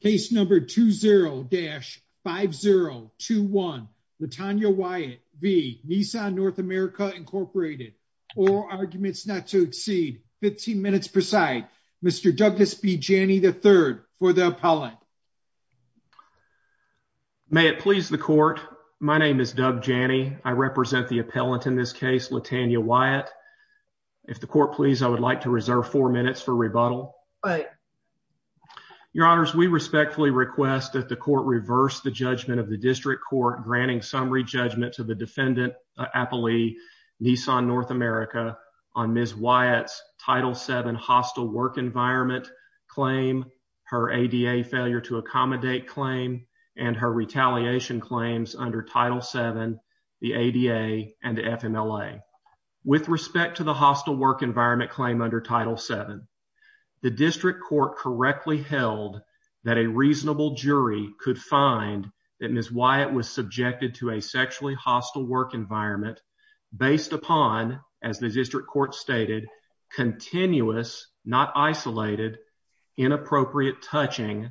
Case number 20-5021. Latanya Wyatt v. Nissan North America Inc. Oral arguments not to exceed 15 minutes per side. Mr. Douglas B. Janney III for the appellant. May it please the court. My name is Doug Janney. I represent the appellant in this case, Latanya Wyatt. If the court please, I would like to reserve four minutes for rebuttal. Your honors, we respectfully request that the court reverse the judgment of the district court granting summary judgment to the defendant appellee Nissan North America on Ms. Wyatt's Title VII hostile work environment claim, her ADA failure to accommodate claim, and her retaliation claims under Title VII, the ADA, and the FMLA. With respect to the hostile work environment claim under Title VII, the district court correctly held that a reasonable jury could find that Ms. Wyatt was subjected to a sexually hostile work environment based upon, as the district court stated, continuous, not isolated, inappropriate touching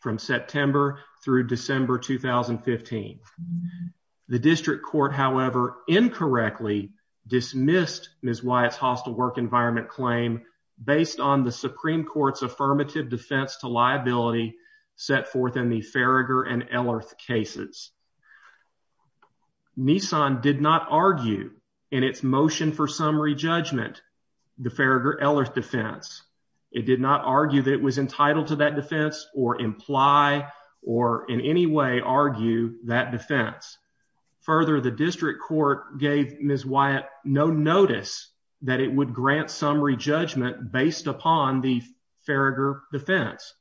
from September through December 2015. The district court, however, incorrectly dismissed Ms. Wyatt's hostile work environment claim based on the Supreme Court's affirmative defense to liability set forth in the Farragher and Ellerth cases. Nissan did not argue in its motion for summary judgment the Farragher-Ellerth defense. It did not argue that it was entitled to that defense or imply or in any way argue that defense. Further, the district court gave Ms. Wyatt no notice that it would grant summary judgment based upon the Farragher defense.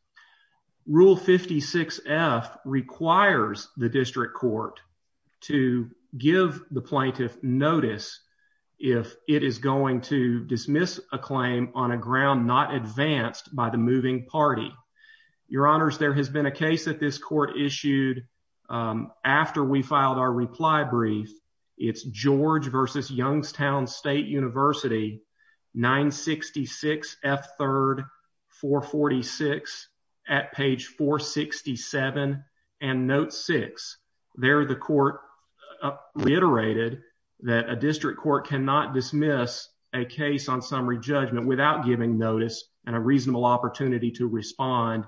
Rule 56F requires the district court to give the plaintiff notice if it is going to dismiss a claim on a ground not advanced by the moving party. Your Honors, there has been a case that this court issued after we filed our reply brief. It's George v. Youngstown State University, 966 F. 3rd, 446 at page 467 and note 6. There the court reiterated that a district court cannot dismiss a case on summary judgment without giving notice and a reasonable opportunity to respond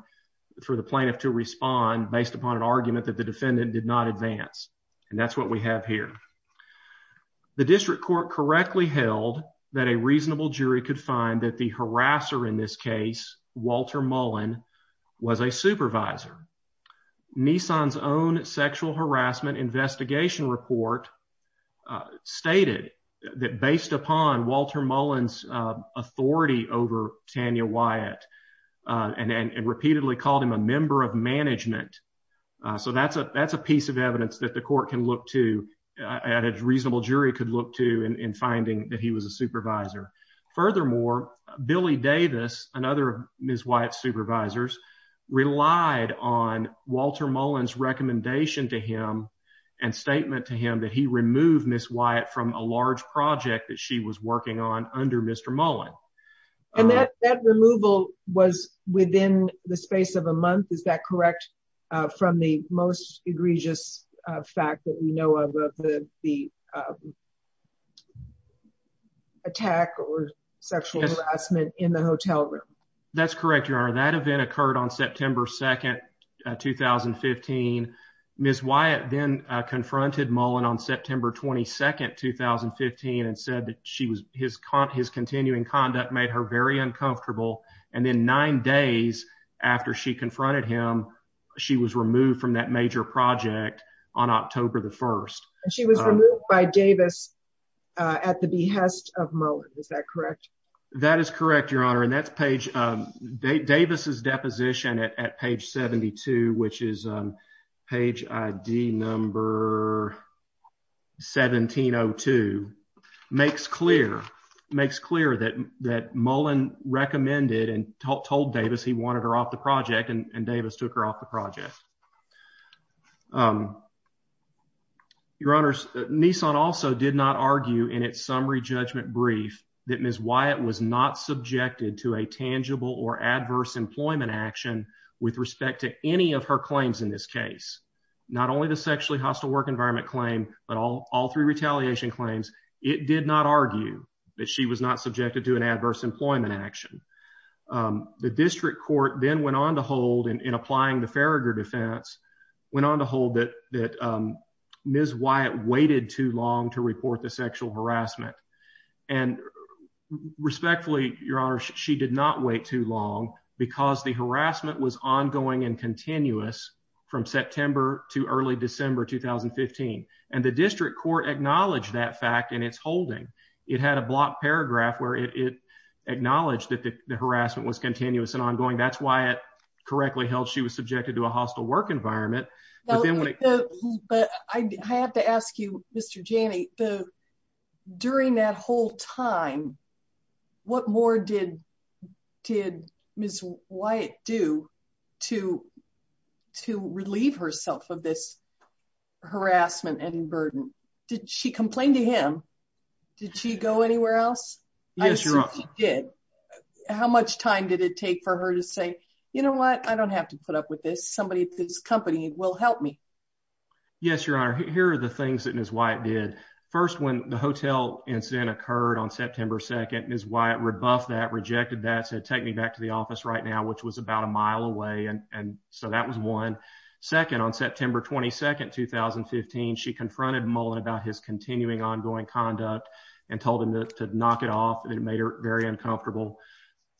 for the plaintiff to respond based upon an argument that the defendant did not advance and that's what we have here. The district court correctly held that a reasonable jury could find that the harasser in this case, Walter Mullen, was a supervisor. Nissan's own sexual harassment investigation report stated that based upon Walter Mullen's authority over Tanya Wyatt and repeatedly called him a member of management. So that's a piece of evidence that the court can look to and a reasonable jury could look to in finding that he was a supervisor. Furthermore, Billy Davis and other Ms. Wyatt supervisors relied on Walter Mullen's recommendation to him and statement to him that he removed Ms. Wyatt from a large project that she was working on under Mr. Mullen. And that removal was within the space of a month, is that correct, from the most egregious fact that we know of of the the attack or sexual harassment in the hotel room? That's correct, your honor. That event occurred on September 2nd, 2015. Ms. Wyatt then confronted Mullen on September 22nd, 2015 and said that she was his continuing conduct made her very uncomfortable and then nine days after she was removed from that major project on October the 1st. She was removed by Davis at the behest of Mullen, is that correct? That is correct, your honor, and that's page Davis's deposition at page 72, which is page ID number 1702, makes clear that Mullen recommended and told Davis he wanted her off the project and Davis took her off the project. Your honors, Nissan also did not argue in its summary judgment brief that Ms. Wyatt was not subjected to a tangible or adverse employment action with respect to any of her claims in this case, not only the sexually hostile work environment claim, but all three retaliation claims. It did not argue that she was not subjected to an adverse employment action. The district court then went on to hold, in applying the Farragher defense, went on to hold that Ms. Wyatt waited too long to report the sexual harassment and respectfully, your honor, she did not wait too long because the harassment was ongoing and continuous from September to early December 2015 and the district court acknowledged that fact in its holding. It had a blocked paragraph where it acknowledged that the harassment was continuous and ongoing. That's why it correctly held she was subjected to a hostile work environment. But I have to ask you, Mr. Janney, during that whole time, what more did Ms. Wyatt do to relieve herself of this harassment and burden? Did she complain to him? Did she go anywhere else? I assume she did. How much time did it take for her to say, you know what, I don't have to put up with this. Somebody at this company will help me. Yes, your honor. Here are the things that Ms. Wyatt did. First, when the hotel incident occurred on September 2nd, Ms. Wyatt rebuffed that, rejected that, said take me back to the office right now, which was about a mile away. And so that was one. Second, on September 22nd, 2015, she confronted Mullen about his continuing ongoing conduct and told him to knock it off. It made her very uncomfortable.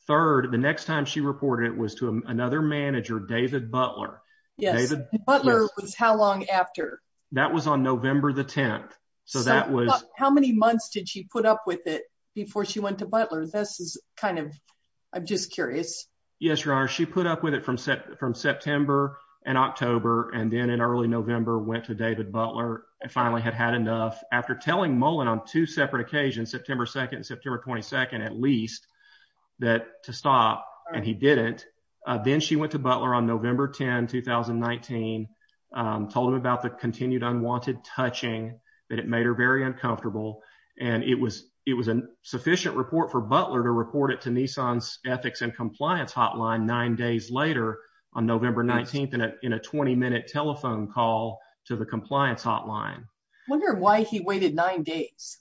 Third, the next time she reported it was to another manager, David Butler. Yes. Butler was how long after? That was on November the 10th. So that was... How many months did she put up with it before she went to Butler? This is kind of... I'm just Yes, your honor. She put up with it from September and October and then in early November went to David Butler and finally had had enough. After telling Mullen on two separate occasions, September 2nd and September 22nd at least, that to stop and he didn't. Then she went to Butler on November 10, 2019, told him about the continued unwanted touching, that it made her very hotline nine days later on November 19th in a 20-minute telephone call to the compliance hotline. I wonder why he waited nine days.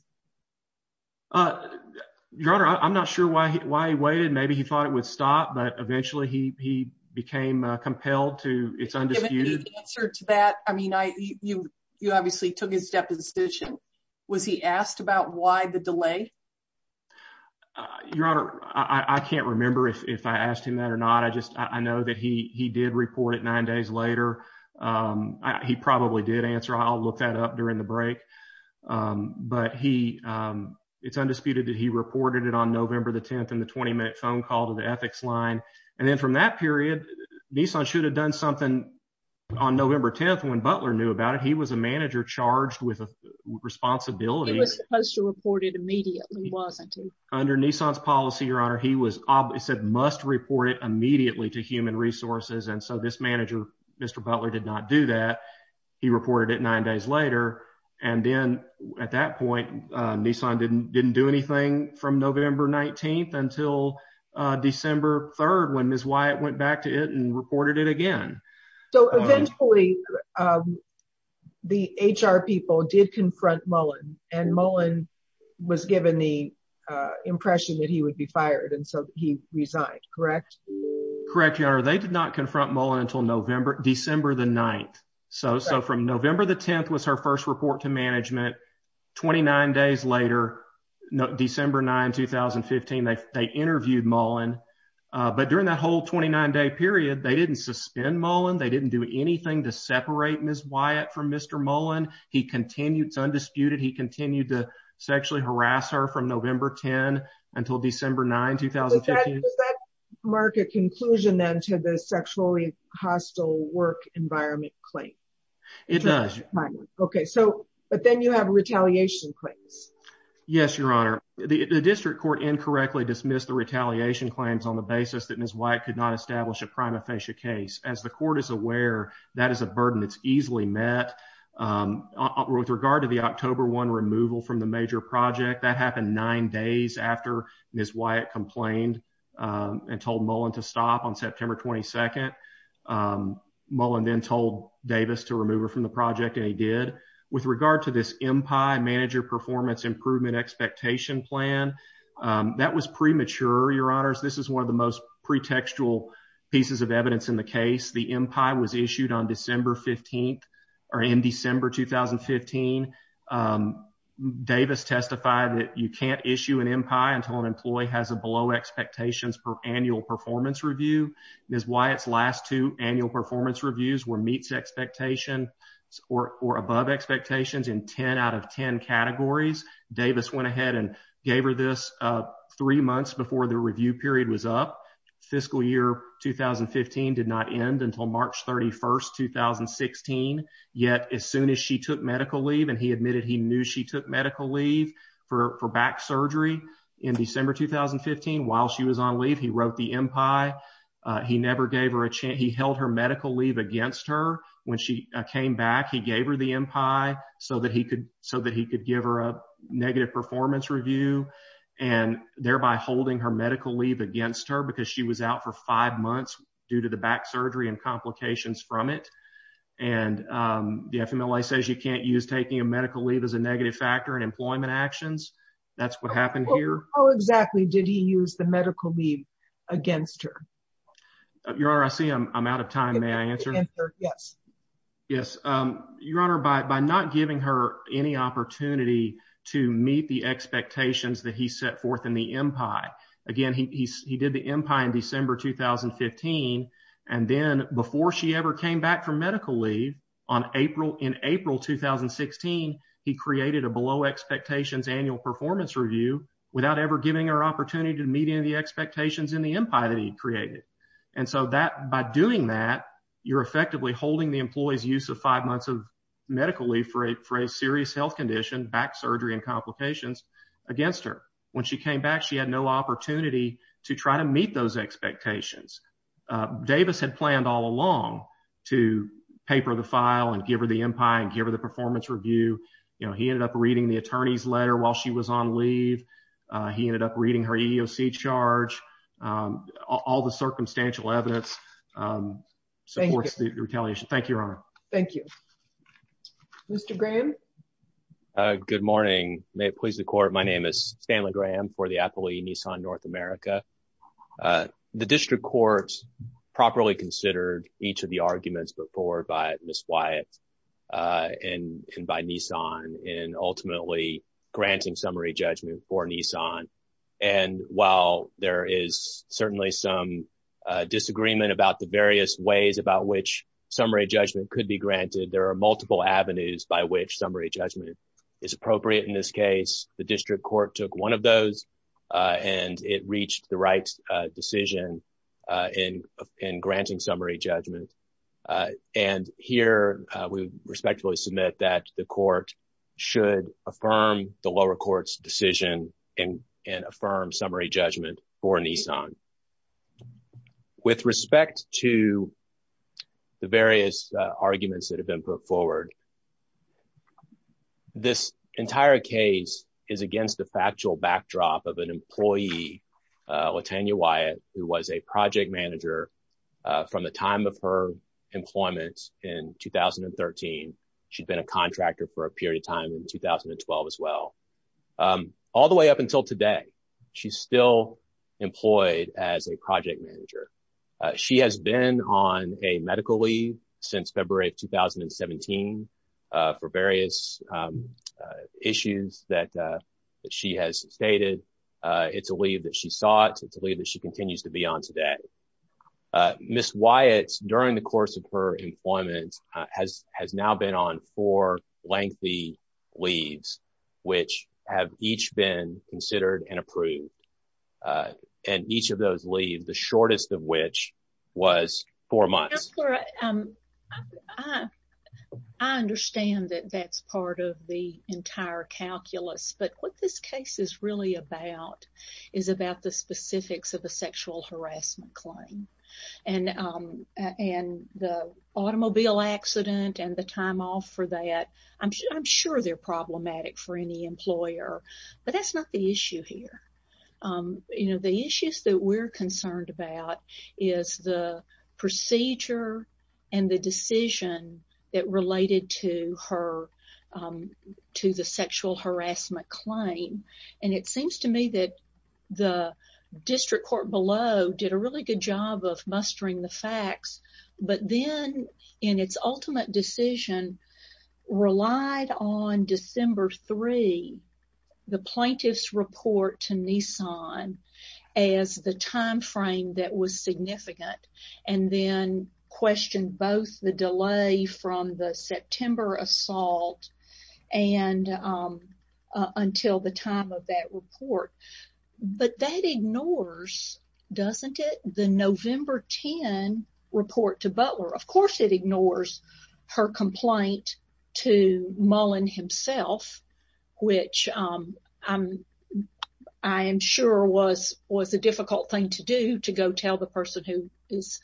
Your honor, I'm not sure why he waited. Maybe he thought it would stop, but eventually he became compelled to. It's undisputed. Give me the answer to that. I mean, you obviously took his deposition. Was he asked about why the delay? Your honor, I can't remember if I asked him that or not. I know that he did report it nine days later. He probably did answer. I'll look that up during the break. But it's undisputed that he reported it on November the 10th in the 20-minute phone call to the ethics line. And then from that period, Nissan should have done something on November 10th when Butler knew about it. He was a manager charged with a responsibility. He was supposed to report it immediately, wasn't he? Under Nissan's policy, your honor, he said must report it immediately to human resources. And so this manager, Mr. Butler, did not do that. He reported it nine days later. And then at that point, Nissan didn't do anything from November 19th until December 3rd when Ms. Wyatt went back to it and reported it again. So eventually the HR people did confront Mullen. And Mullen was given the impression that he would be fired. And so he resigned, correct? Correct, your honor. They did not confront Mullen until December the 9th. So from November the 10th was her first report to management. 29 days later, December 9, 2015, they interviewed Mullen. But during that whole 29-day period, they didn't suspend Mullen. They didn't do anything to separate Ms. Wyatt from Mr. Mullen. He continued, it's undisputed, he continued to sexually harass her from November 10 until December 9, 2015. Does that mark a conclusion then to the sexually hostile work environment claim? It does. Okay, so but then you have retaliation claims. Yes, your honor. The district court incorrectly dismissed the retaliation claims on the basis that Ms. Wyatt could not establish a prima facie case. As the court is aware, that is a burden that's easily met. With regard to the October 1 removal from the major project, that happened nine days after Ms. Wyatt complained and told Mullen to stop on September 22nd. Mullen then told Davis to remove her from the project and he did. With regard to this MPI, manager performance improvement expectation plan, that was premature, your honors. This is one of the most pretextual pieces of evidence in the case. The MPI was issued on December 15th or in December 2015. Davis testified that you can't issue an MPI until an employee has a below expectations per annual performance review. Ms. Wyatt's last two annual performance reviews were meets expectations or above expectations in 10 out of 10 categories. Davis went ahead and gave her this three months before the review period was up. Fiscal year 2015 did not end until March 31st, 2016, yet as soon as she took medical leave and he admitted he knew she took medical leave for back surgery in December 2015 while she was on leave, he wrote the MPI. He held her medical leave against her when she came back. He gave her the MPI so that he could give her a negative performance review and thereby holding her medical leave against her because she was out for five months due to the back surgery and complications from it. The FMLA says you can't use taking a medical leave as a negative factor in employment actions. That's what happened here. How exactly did he use the medical leave against her? Your Honor, I see I'm out of time. May I answer? Yes. Yes. Your Honor, by not giving her any opportunity to meet the expectations that he set forth in the MPI. Again, he did the MPI in December 2015 and then before she ever came back for medical leave in April 2016, he created a below expectations annual performance review without ever giving her opportunity to meet any of the expectations in the MPI that he created. By doing that, you're effectively holding the employee's use of five months of medical leave for a serious health condition, back surgery and complications against her. When she came back, she had no opportunity to try to meet those expectations. Davis had planned all along to paper the file and give her the MPI and give her the performance review. He ended up reading the attorney's letter while she was on leave. He ended up reading her EEOC charge. All the circumstantial evidence supports the retaliation. Thank you, Your Honor. Thank you. Mr. Graham. Good morning. May it please the court. My name is Stanley Graham for the appellee Nissan North America. The district courts properly considered each of the arguments before by Ms. Wyatt and by Nissan in ultimately granting summary judgment for Nissan. While there is certainly some disagreement about the various ways about which summary judgment could be granted, there are multiple avenues by which summary judgment is appropriate in this case. The district court took one of those and it reached the right decision in granting summary judgment. And here we respectfully submit that the court should affirm the lower court's decision and affirm summary judgment for Nissan. With respect to the various arguments that have been put forward, this entire case is against the factual backdrop of an employee, Latanya Wyatt, who was a project manager from the time of her employment in 2013. She'd been a contractor for a period of time in 2012 as well. All the way up until today, she's still employed as a project manager. She has been on a medical leave since February of 2017 for various issues that she has stated. It's a leave that she sought. It's a leave that she continues to be on today. Ms. Wyatt, during the course of her employment, has now been on four lengthy leaves, which have each been considered and approved. And each of those the shortest of which was four months. I understand that that's part of the entire calculus, but what this case is really about is about the specifics of a sexual harassment claim. And the automobile accident and the time off for that, I'm sure they're problematic for the employer, but that's not the issue here. You know, the issues that we're concerned about is the procedure and the decision that related to her to the sexual harassment claim. And it seems to me that the district court below did a really good job of mustering the facts, but then in its ultimate decision, relied on December 3, the plaintiff's report to Nissan as the time frame that was significant, and then questioned both the delay from the September assault and until the time of that report. But that ignores, doesn't it, the November 10 report to Butler. Of course it ignores her complaint to Mullen himself, which I am sure was a difficult thing to do, to go tell the person who is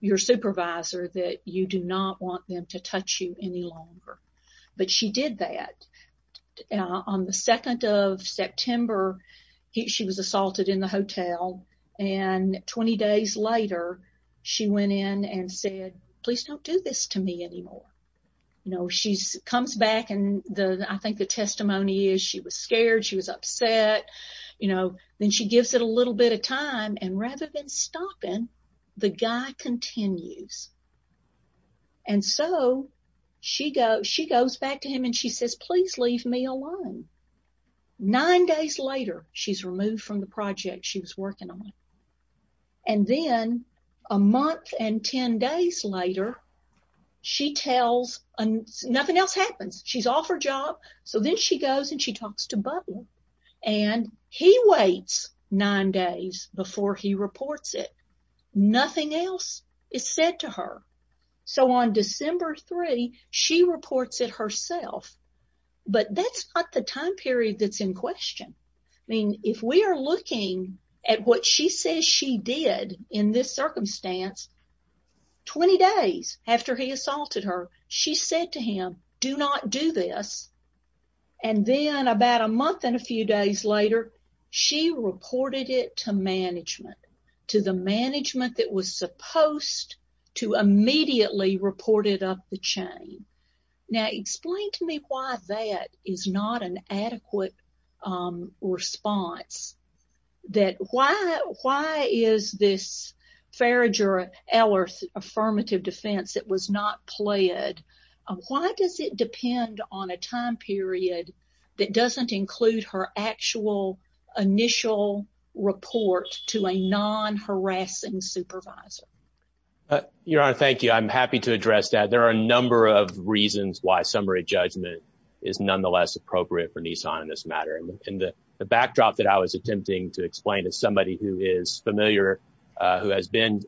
your supervisor that you do not want to touch you any longer. But she did that. On the 2nd of September, she was assaulted in the hotel and 20 days later, she went in and said, please don't do this to me anymore. You know, she comes back and I think the testimony is she was scared, she was upset, you know, then she gives it a little bit of time and rather than stopping, the guy continues. And so she goes back to him and she says, please leave me alone. Nine days later, she's removed from the project she was working on. And then a month and 10 days later, she tells, nothing else happens. She's off her job. So then she goes and she talks to Butler and he waits nine days before he reports it. Nothing else is said to her. So on December 3, she reports it herself. But that's not the time period that's in question. I mean, if we are looking at what she says she did in this circumstance, 20 days after he assaulted her, she said to him, do not do this. And then about a month and a few days later, she reported it to management, to the management that was supposed to immediately report it up the chain. Now, explain to me why that is not an adequate response, that why is this a time period that doesn't include her actual initial report to a non-harassing supervisor? Your Honor, thank you. I'm happy to address that. There are a number of reasons why summary judgment is nonetheless appropriate for Nissan in this matter. And the backdrop that I was attempting to explain is somebody who is familiar, who has been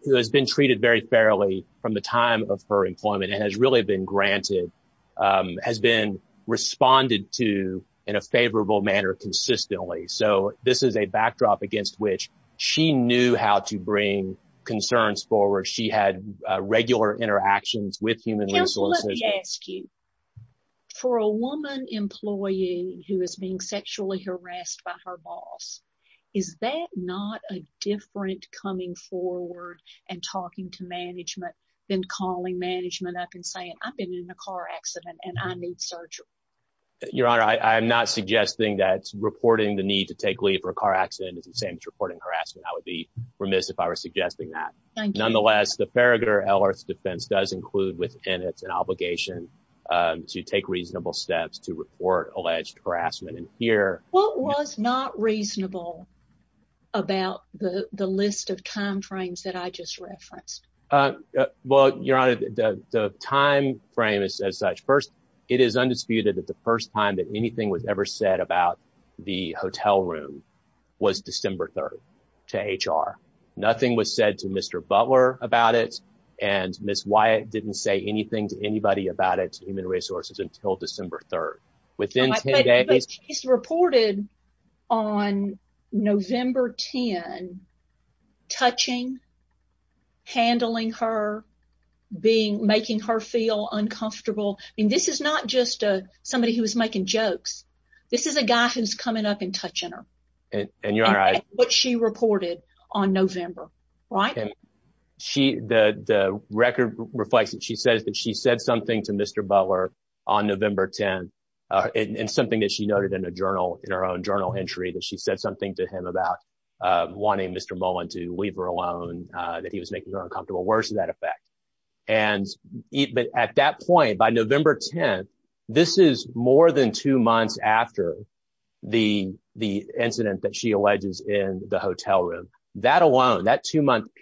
treated very fairly from the time of her being granted, has been responded to in a favorable manner consistently. So this is a backdrop against which she knew how to bring concerns forward. She had regular interactions with human resources. Counsel, let me ask you, for a woman employee who is being sexually harassed by her boss, is that not a different coming forward and talking to management than calling management up and saying, I've been in a car accident and I need surgery? Your Honor, I'm not suggesting that reporting the need to take leave for a car accident is the same as reporting harassment. I would be remiss if I were suggesting that. Nonetheless, the Farragutter-Ellerts defense does include within it an obligation to take reasonable steps to report alleged harassment. What was not reasonable about the list of time frames that I just referenced? Well, Your Honor, the time frame is as such. First, it is undisputed that the first time that anything was ever said about the hotel room was December 3rd to HR. Nothing was said to Mr. Butler about it, and Ms. Wyatt didn't say anything to anybody about it to human resources until December 3rd. Within 10 days... But she's reported on November 10 touching, handling her, making her feel uncomfortable. I mean, this is not just somebody who was making jokes. This is a guy who's coming up and touching her. And Your Honor, I... And that's what she reported on November, right? The record reflects that she said something to Mr. Butler on November 10th, and something that she noted in a journal, in her own journal entry, that she said something to him about wanting Mr. Mullen to leave her alone, that he was making her uncomfortable. Where is that effect? But at that point, by November 10th, this is more than two months after the incident that she alleges in the hotel room. That alone,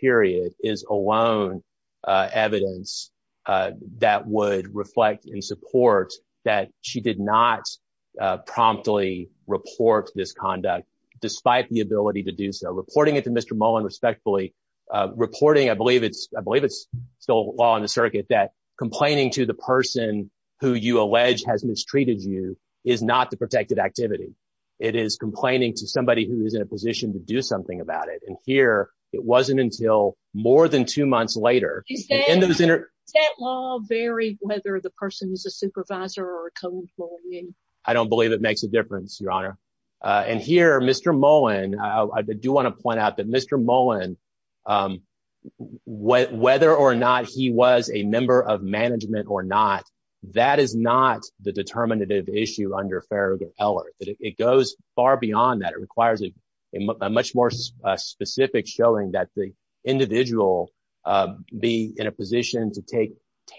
period, is alone evidence that would reflect in support that she did not promptly report this conduct, despite the ability to do so. Reporting it to Mr. Mullen, respectfully, reporting, I believe it's still law in the circuit, that complaining to the person who you allege has mistreated you is not the protected activity. It is complaining to somebody who is in a position to do something about it. And here, it wasn't until more than two months later... Does that law vary whether the person is a supervisor or a co-employee? I don't believe it makes a difference, Your Honor. And here, Mr. Mullen, I do want to point out that Mr. Mullen, whether or not he was a member of management or not, that is not the determinative issue under Farragut-Eller. It goes far beyond that. It requires a much more specific showing that the individual be in a position to take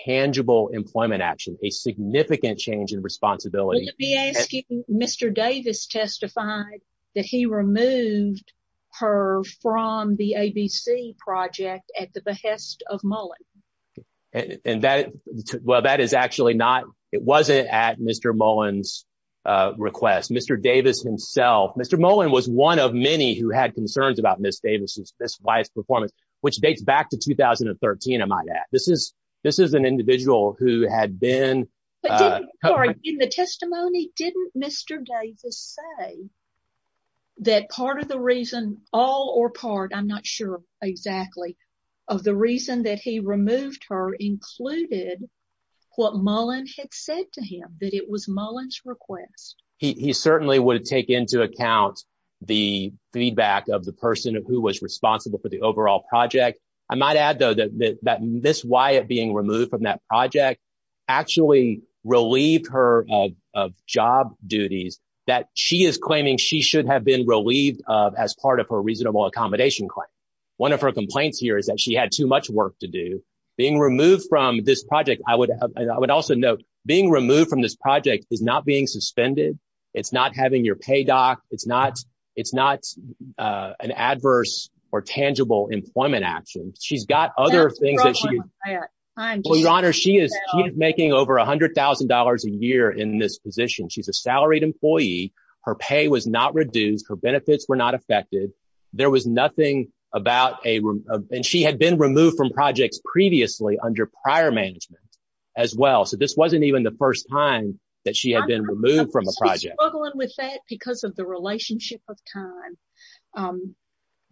tangible employment action, a significant change in responsibility. Let me ask you, Mr. Davis testified that he removed her from the ABC project at the behest of Mullen. And that, well, that is actually not, it wasn't at Mr. Mullen's request. Mr. Davis himself, Mr. Mullen was one of many who had concerns about Ms. Davis's performance, which dates back to 2013, I might add. This is an individual who had been... In the testimony, didn't Mr. Davis say that part of the reason, all or part, I'm not sure exactly, of the reason that he removed her included what Mullen had said to him, that it was Mullen's request? He certainly would take into account the feedback of the person who was responsible for the overall project. I might add, though, that Ms. Wyatt being removed from that project actually relieved her of job duties that she is claiming she should have been relieved of as part of her reasonable accommodation claim. One of her complaints here is that she had too much work to do. Being removed from this project, I would also note, being removed from this project is not being suspended. It's not having your pay doc. It's not an adverse or tangible employment action. She's got other things that she... Your Honor, she is making over $100,000 a year in this position. She's a salaried employee. Her pay was not reduced. Her benefits were not affected. There was nothing about a... And she had been removed from projects previously under prior management as well. So this wasn't even the first time that she had been removed from a project. I'm struggling with that because of the relationship of time.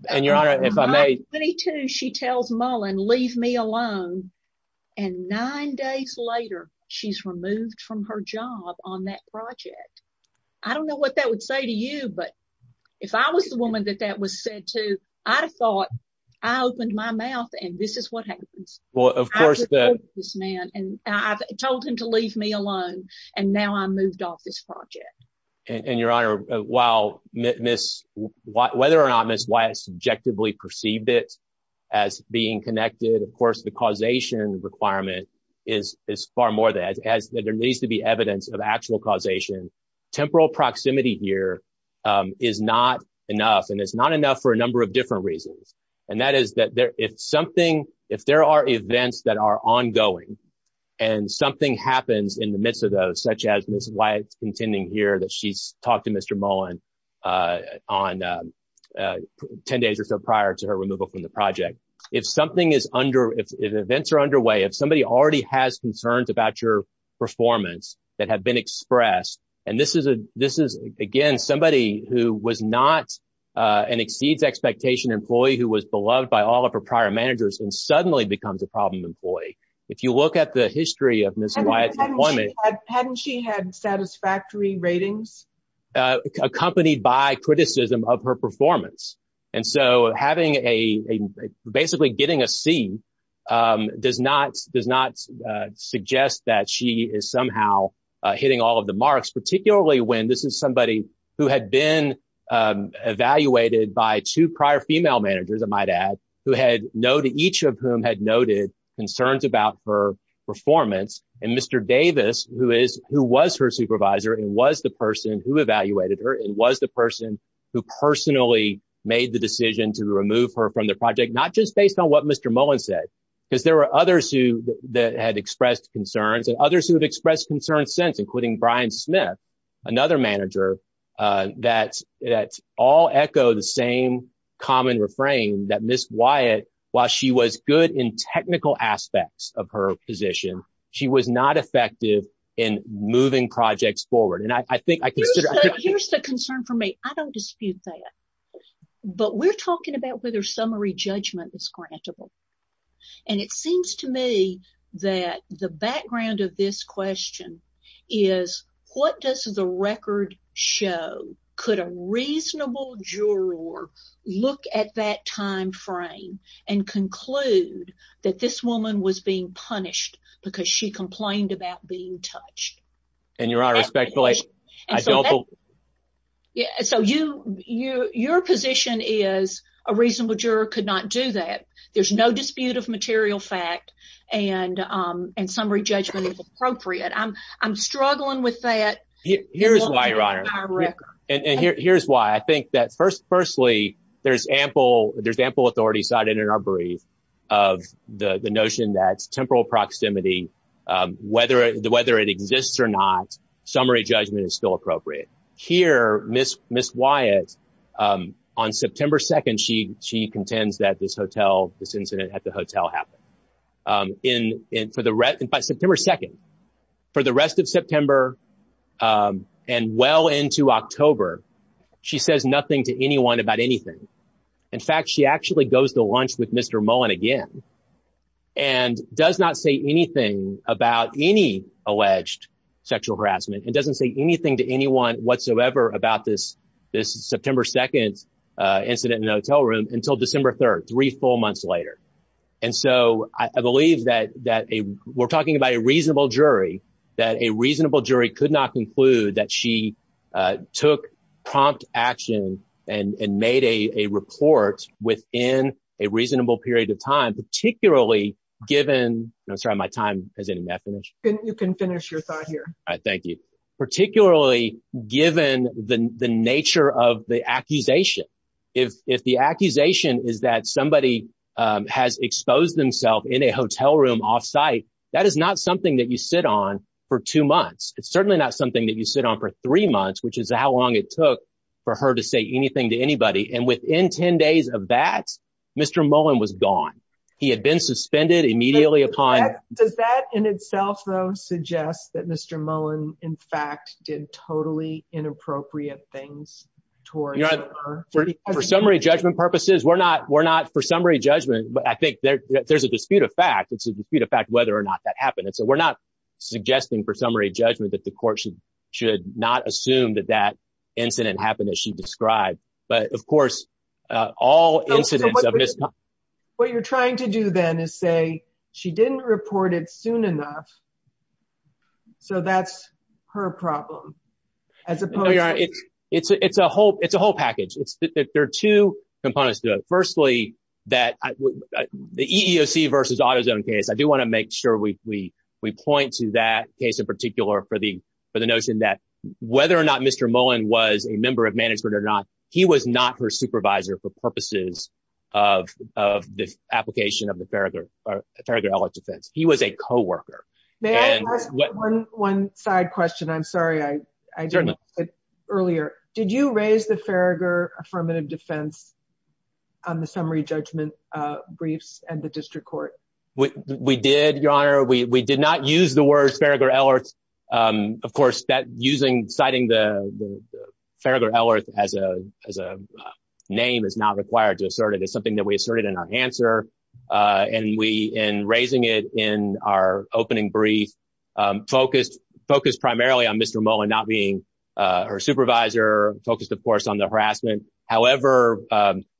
And Your Honor, if I may... I don't know what that would say to you, but if I was the woman that that was said to, I'd have thought, I opened my mouth and this is what happens. Well, of course, the... I told this man, and I told him to leave me alone, and now I moved off this project. And Your Honor, whether or not Ms. Wyatt subjectively perceived it as being connected, of course, the causation requirement is far more than that. There needs to be evidence of actual causation. Temporal proximity here is not enough, and it's not enough for a number of different reasons. And that is that if something... If there are events that are ongoing and something happens in the midst of those, such as Ms. Wyatt's contending here that she's talked to Mr. Mullen on 10 days or so prior to her removal from the project. If something is under... If events are underway, if somebody already has concerns about your performance that have been expressed, and this is, again, somebody who was not an exceeds expectation employee who was beloved by all of her prior managers and look at the history of Ms. Wyatt's employment... Hadn't she had satisfactory ratings? Accompanied by criticism of her performance. And so having a... Basically getting a C does not suggest that she is somehow hitting all of the marks, particularly when this is somebody who had been evaluated by two prior female managers, I might add, who had each of whom noted concerns about her performance. And Mr. Davis, who was her supervisor and was the person who evaluated her and was the person who personally made the decision to remove her from the project, not just based on what Mr. Mullen said, because there were others who had expressed concerns and others who have expressed concerns since, including Brian Smith, another manager, that all echo the same common refrain that Ms. Wyatt, while she was good in technical aspects of her position, she was not effective in moving projects forward. And I think... Here's the concern for me. I don't dispute that. But we're talking about whether summary judgment is grantable. And it seems to me that the background of this question is what does the record show? Could a reasonable juror look at that time frame and conclude that this woman was being punished because she complained about being touched? And your honor, respectfully, I don't... Yeah, so your position is a reasonable juror could not do that. There's no dispute of that. And here's why I think that firstly, there's ample authority cited in our brief of the notion that temporal proximity, whether it exists or not, summary judgment is still appropriate. Here, Ms. Wyatt, on September 2nd, she contends that this incident at the hotel happened. In fact, September 2nd. For the rest of September and well into October, she says nothing to anyone about anything. In fact, she actually goes to lunch with Mr. Mullen again and does not say anything about any alleged sexual harassment and doesn't say anything to anyone whatsoever about this September 2nd incident in the hotel room until December 3rd, four months later. And so I believe that we're talking about a reasonable jury, that a reasonable jury could not conclude that she took prompt action and made a report within a reasonable period of time, particularly given... I'm sorry, my time has any definition. You can finish your thought here. All right, thank you. Particularly given the nature of the accusation. If the accusation is that somebody has exposed themselves in a hotel room offsite, that is not something that you sit on for two months. It's certainly not something that you sit on for three months, which is how long it took for her to say anything to anybody. And within 10 days of that, Mr. Mullen was gone. He had been suspended immediately upon... Does that in itself though suggest that Mr. Mullen, in fact, did totally inappropriate things towards her? For summary judgment purposes, we're not for summary judgment, but I think there's a dispute of fact. It's a dispute of fact whether or not that happened. And so we're not suggesting for summary judgment that the court should not assume that that incident happened as she described. But of course, all incidents of misconduct... What you're trying to do then is say, she didn't report it soon enough. So that's her problem, as opposed to... It's a whole package. There are two components to it. Firstly, the EEOC versus AutoZone case, I do want to make sure we point to that case in particular for the notion that whether or not Mr. Mullen was a member of management or not, he was not her supervisor for purposes of the application of the Farragher-Ellis defense. He was a coworker. May I ask one side question? I'm sorry. Certainly. Earlier, did you raise the Farragher affirmative defense on the summary judgment briefs and the district court? We did, Your Honor. We did not use the words Farragher-Ellis. Of course, citing the Farragher-Ellis as a name is not required to assert it. It's something that we asserted in our answer. And we, in raising it in our opening brief, focused primarily on Mr. Mullen not being her supervisor, focused, of course, on the harassment. However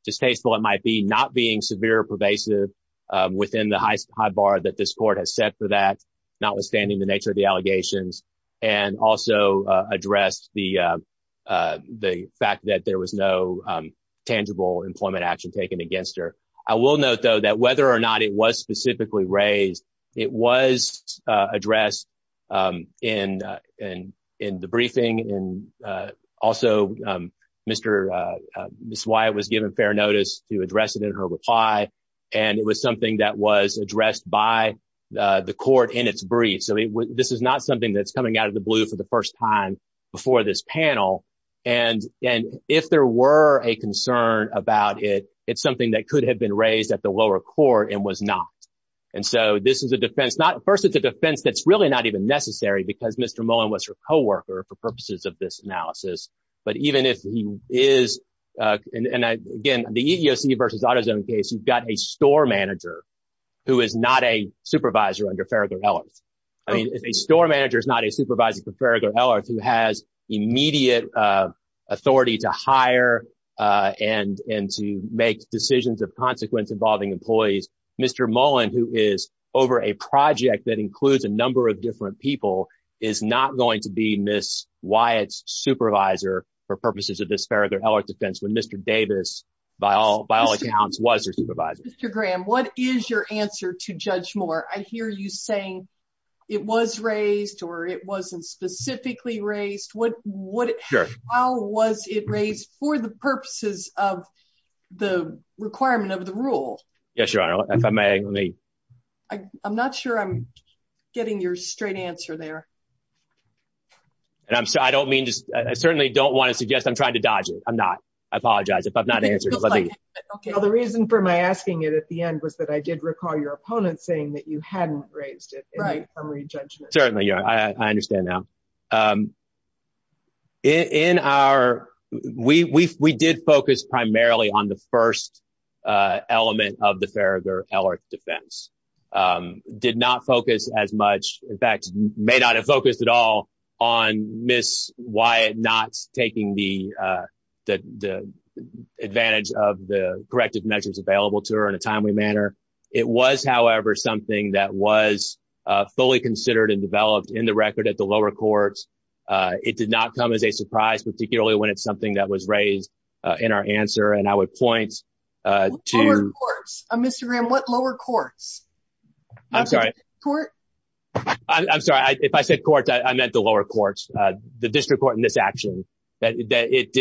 distasteful it might be not being severe pervasive within the high bar that this court has set for that, notwithstanding the nature of the allegations, and also addressed the fact that there was no tangible employment action taken against her. I will note, though, that whether or not it was specifically raised, it was addressed in the briefing. And also, Ms. Wyatt was given fair notice to address it in her reply. And it was something that was addressed by the court in its brief. So this is not something that's coming out of the blue for the first time before this panel. And if there were a concern about it, it's something that could have been raised at the lower court and was not. And so this is a defense. First, it's a defense that's really not even necessary because Mr. Mullen was her coworker for purposes of this analysis. But even if he is, and again, the EEOC versus AutoZone case, you've got a store manager who is not a supervisor under Farragut-Ellis. I mean, if a store manager is not a supervisor for Farragut-Ellis who has immediate authority to hire and to make decisions of consequence involving employees, Mr. Mullen, who is over a project that includes a number of different people, is not going to be Ms. Wyatt's supervisor for purposes of this Farragut-Ellis defense when Mr. Davis, by all accounts, was her supervisor. Mr. Graham, what is your answer to Judge Moore? I hear you saying it was raised or it wasn't specifically raised. How was it raised for the purposes of the requirement of the rule? Yes, Your Honor, if I may. I'm not sure I'm getting your straight answer there. I certainly don't want to suggest I'm trying to dodge it. I'm not. I apologize if I've not answered it. Well, the reason for my asking it at the end was that I did recall your opponent saying that you hadn't raised it in the primary judgment. Certainly, Your Honor. I understand now. We did focus primarily on the first element of the Farragut-Ellis defense. Did not focus as much, in fact, may not have focused at all on Ms. Wyatt not taking the advantage of the corrective measures available to her in a timely manner. It was, however, something that was fully considered and developed in the record at the lower courts. It did not come as a surprise, particularly when it's something that was raised in our answer. And I would point to... Lower courts? Mr. Graham, what lower courts? I'm sorry. Court? I'm sorry. If I said courts, I meant the lower courts, the district court in this action, that it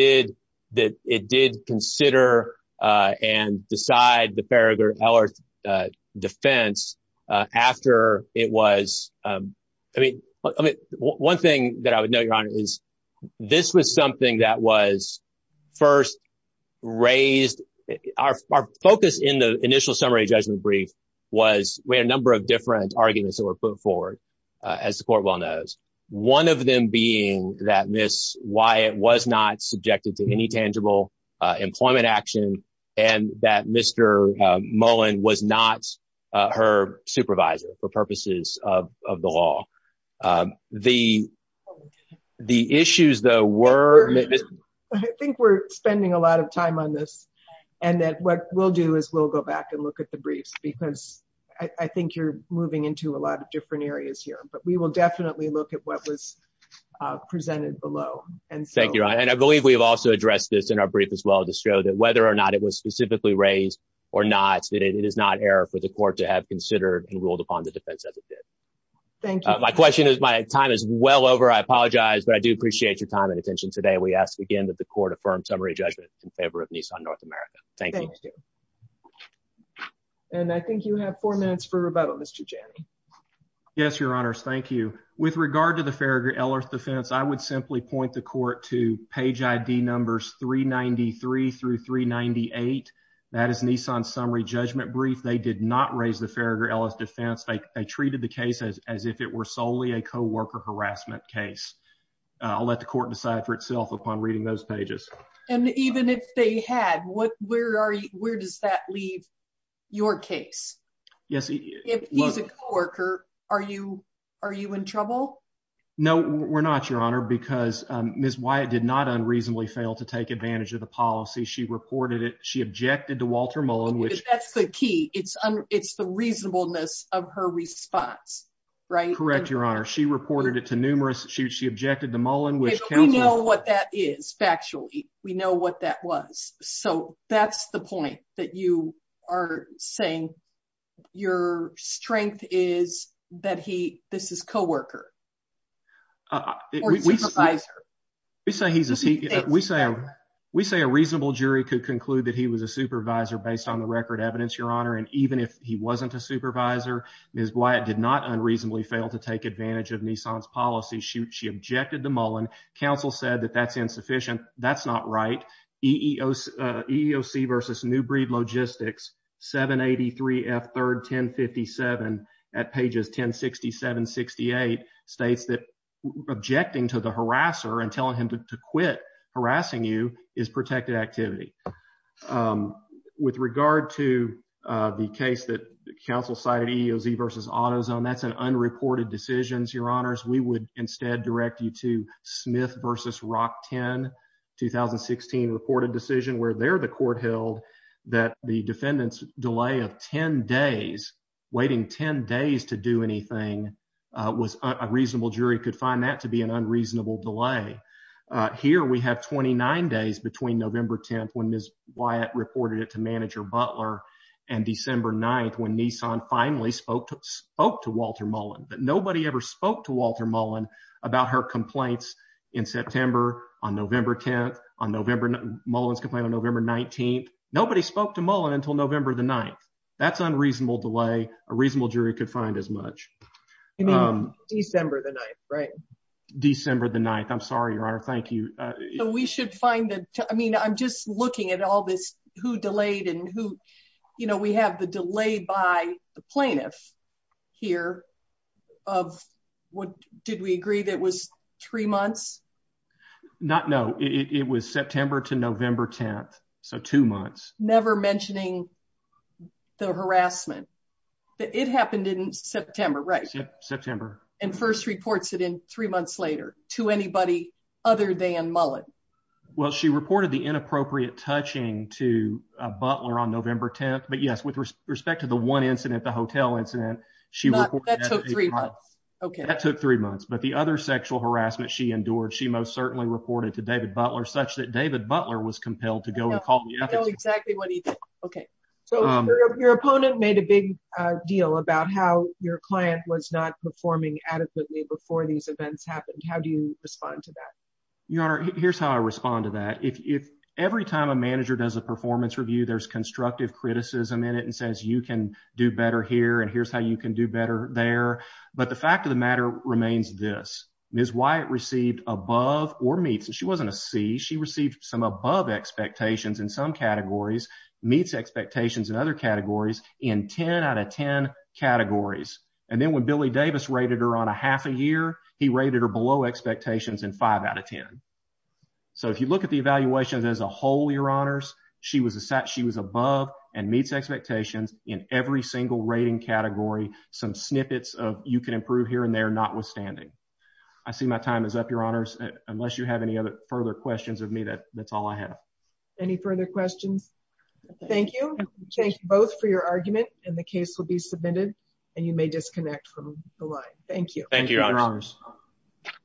did consider and decide the Farragut-Ellis defense after it was... One thing that I would note, Your Honor, is this was something that was first raised... Our focus in the initial summary judgment brief was we had a number of different arguments that were put forward, as the court well knows. One of them being that Ms. Wyatt was not subjected to any tangible employment action and that Mr. Mullen was not her supervisor for purposes of the law. The issues though were... I think we're spending a lot of time on this and that what we'll do is we'll go back and look at the briefs because I think you're moving into a lot of different areas here, but we will definitely look at what was presented below. Thank you, Your Honor. And I believe we have also addressed this in our brief as well to show that whether or not it was specifically raised or not, that it is not error for the court to have considered and ruled upon the defense as it did. Thank you. My question is... My time is well over. I apologize, but I do appreciate your time and attention today. We ask again that the court affirm summary judgment in favor of Nissan North America. Thank you. And I think you have four minutes, Mr. Janney. Yes, Your Honors. Thank you. With regard to the Farragher-Ellis defense, I would simply point the court to page ID numbers 393 through 398. That is Nissan's summary judgment brief. They did not raise the Farragher-Ellis defense. They treated the case as if it were solely a co-worker harassment case. I'll let the court decide for itself upon reading those pages. And even if they had, where does that leave your case? Yes. If he's a co-worker, are you in trouble? No, we're not, Your Honor, because Ms. Wyatt did not unreasonably fail to take advantage of the policy. She reported it. She objected to Walter Mullen, which... That's the key. It's the reasonableness of her response, right? Correct, Your Honor. She reported it to numerous. She objected to Mullen, which counsel... We know what that is, factually. We know what that was. So that's the point that you are saying your strength is that he, this is co-worker or supervisor. We say a reasonable jury could conclude that he was a supervisor based on the record evidence, Your Honor. And even if he wasn't a supervisor, Ms. Wyatt did not unreasonably fail to take advantage of Nissan's policy. She objected to Mullen. Counsel said that that's insufficient. That's not right. EEOC versus Newbreed Logistics, 783 F 3rd 1057 at pages 1067-68 states that objecting to the harasser and telling him to quit harassing you is protected activity. With regard to the case that counsel cited EEOC versus AutoZone, that's an unreported decision, Your Honors. We would instead direct you to Smith versus Rock 10, 2016 reported decision where they're the court held that the defendant's delay of 10 days, waiting 10 days to do anything, a reasonable jury could find that to be an unreasonable delay. Here we have 29 days between November 10th, when Ms. Wyatt reported it to manager Butler and December 9th, when Nissan finally spoke to Walter Mullen, but nobody ever spoke to Walter Mullen about her complaints in September on November 10th, on November Mullen's complaint on November 19th. Nobody spoke to Mullen until November the 9th. That's unreasonable delay. A reasonable jury could find as much. December the 9th, right? December the 9th. I'm sorry, Your Honor. Thank you. We should find the, I mean, I'm just looking at all this who delayed and who, you know, we have the delay by the plaintiff here of what, did we agree that was three months? Not, no, it was September to November 10th. So two months. Never mentioning the harassment. It happened in September, right? September. And first reports it in three months later to anybody other than Mullen. Well, she reported the inappropriate touching to Butler on November 10th, but yes, with respect to the one incident, the hotel incident, she reported that. That took three months. Okay. That took three months, but the other sexual harassment she endured, she most certainly reported to David Butler, such that David Butler was compelled to go and call the So your opponent made a big deal about how your client was not performing adequately before these events happened. How do you respond to that? Your Honor, here's how I respond to that. If, if every time a manager does a performance review, there's constructive criticism in it and says, you can do better here. And here's how you can do better there. But the fact of the matter remains this. Ms. Wyatt received above or meets, and she wasn't a C, she received some above expectations in some categories meets expectations and other categories in 10 out of 10 categories. And then when Billy Davis rated her on a half a year, he rated her below expectations in five out of 10. So if you look at the evaluations as a whole, your honors, she was a set. She was above and meets expectations in every single rating category. Some snippets of you can improve here and there, not withstanding. I see my time is up your honors, unless you have any other further questions of me, that's all I have. Any further questions? Thank you. Thank you both for your argument and the case will be submitted and you may disconnect from the line. Thank you. Thank you.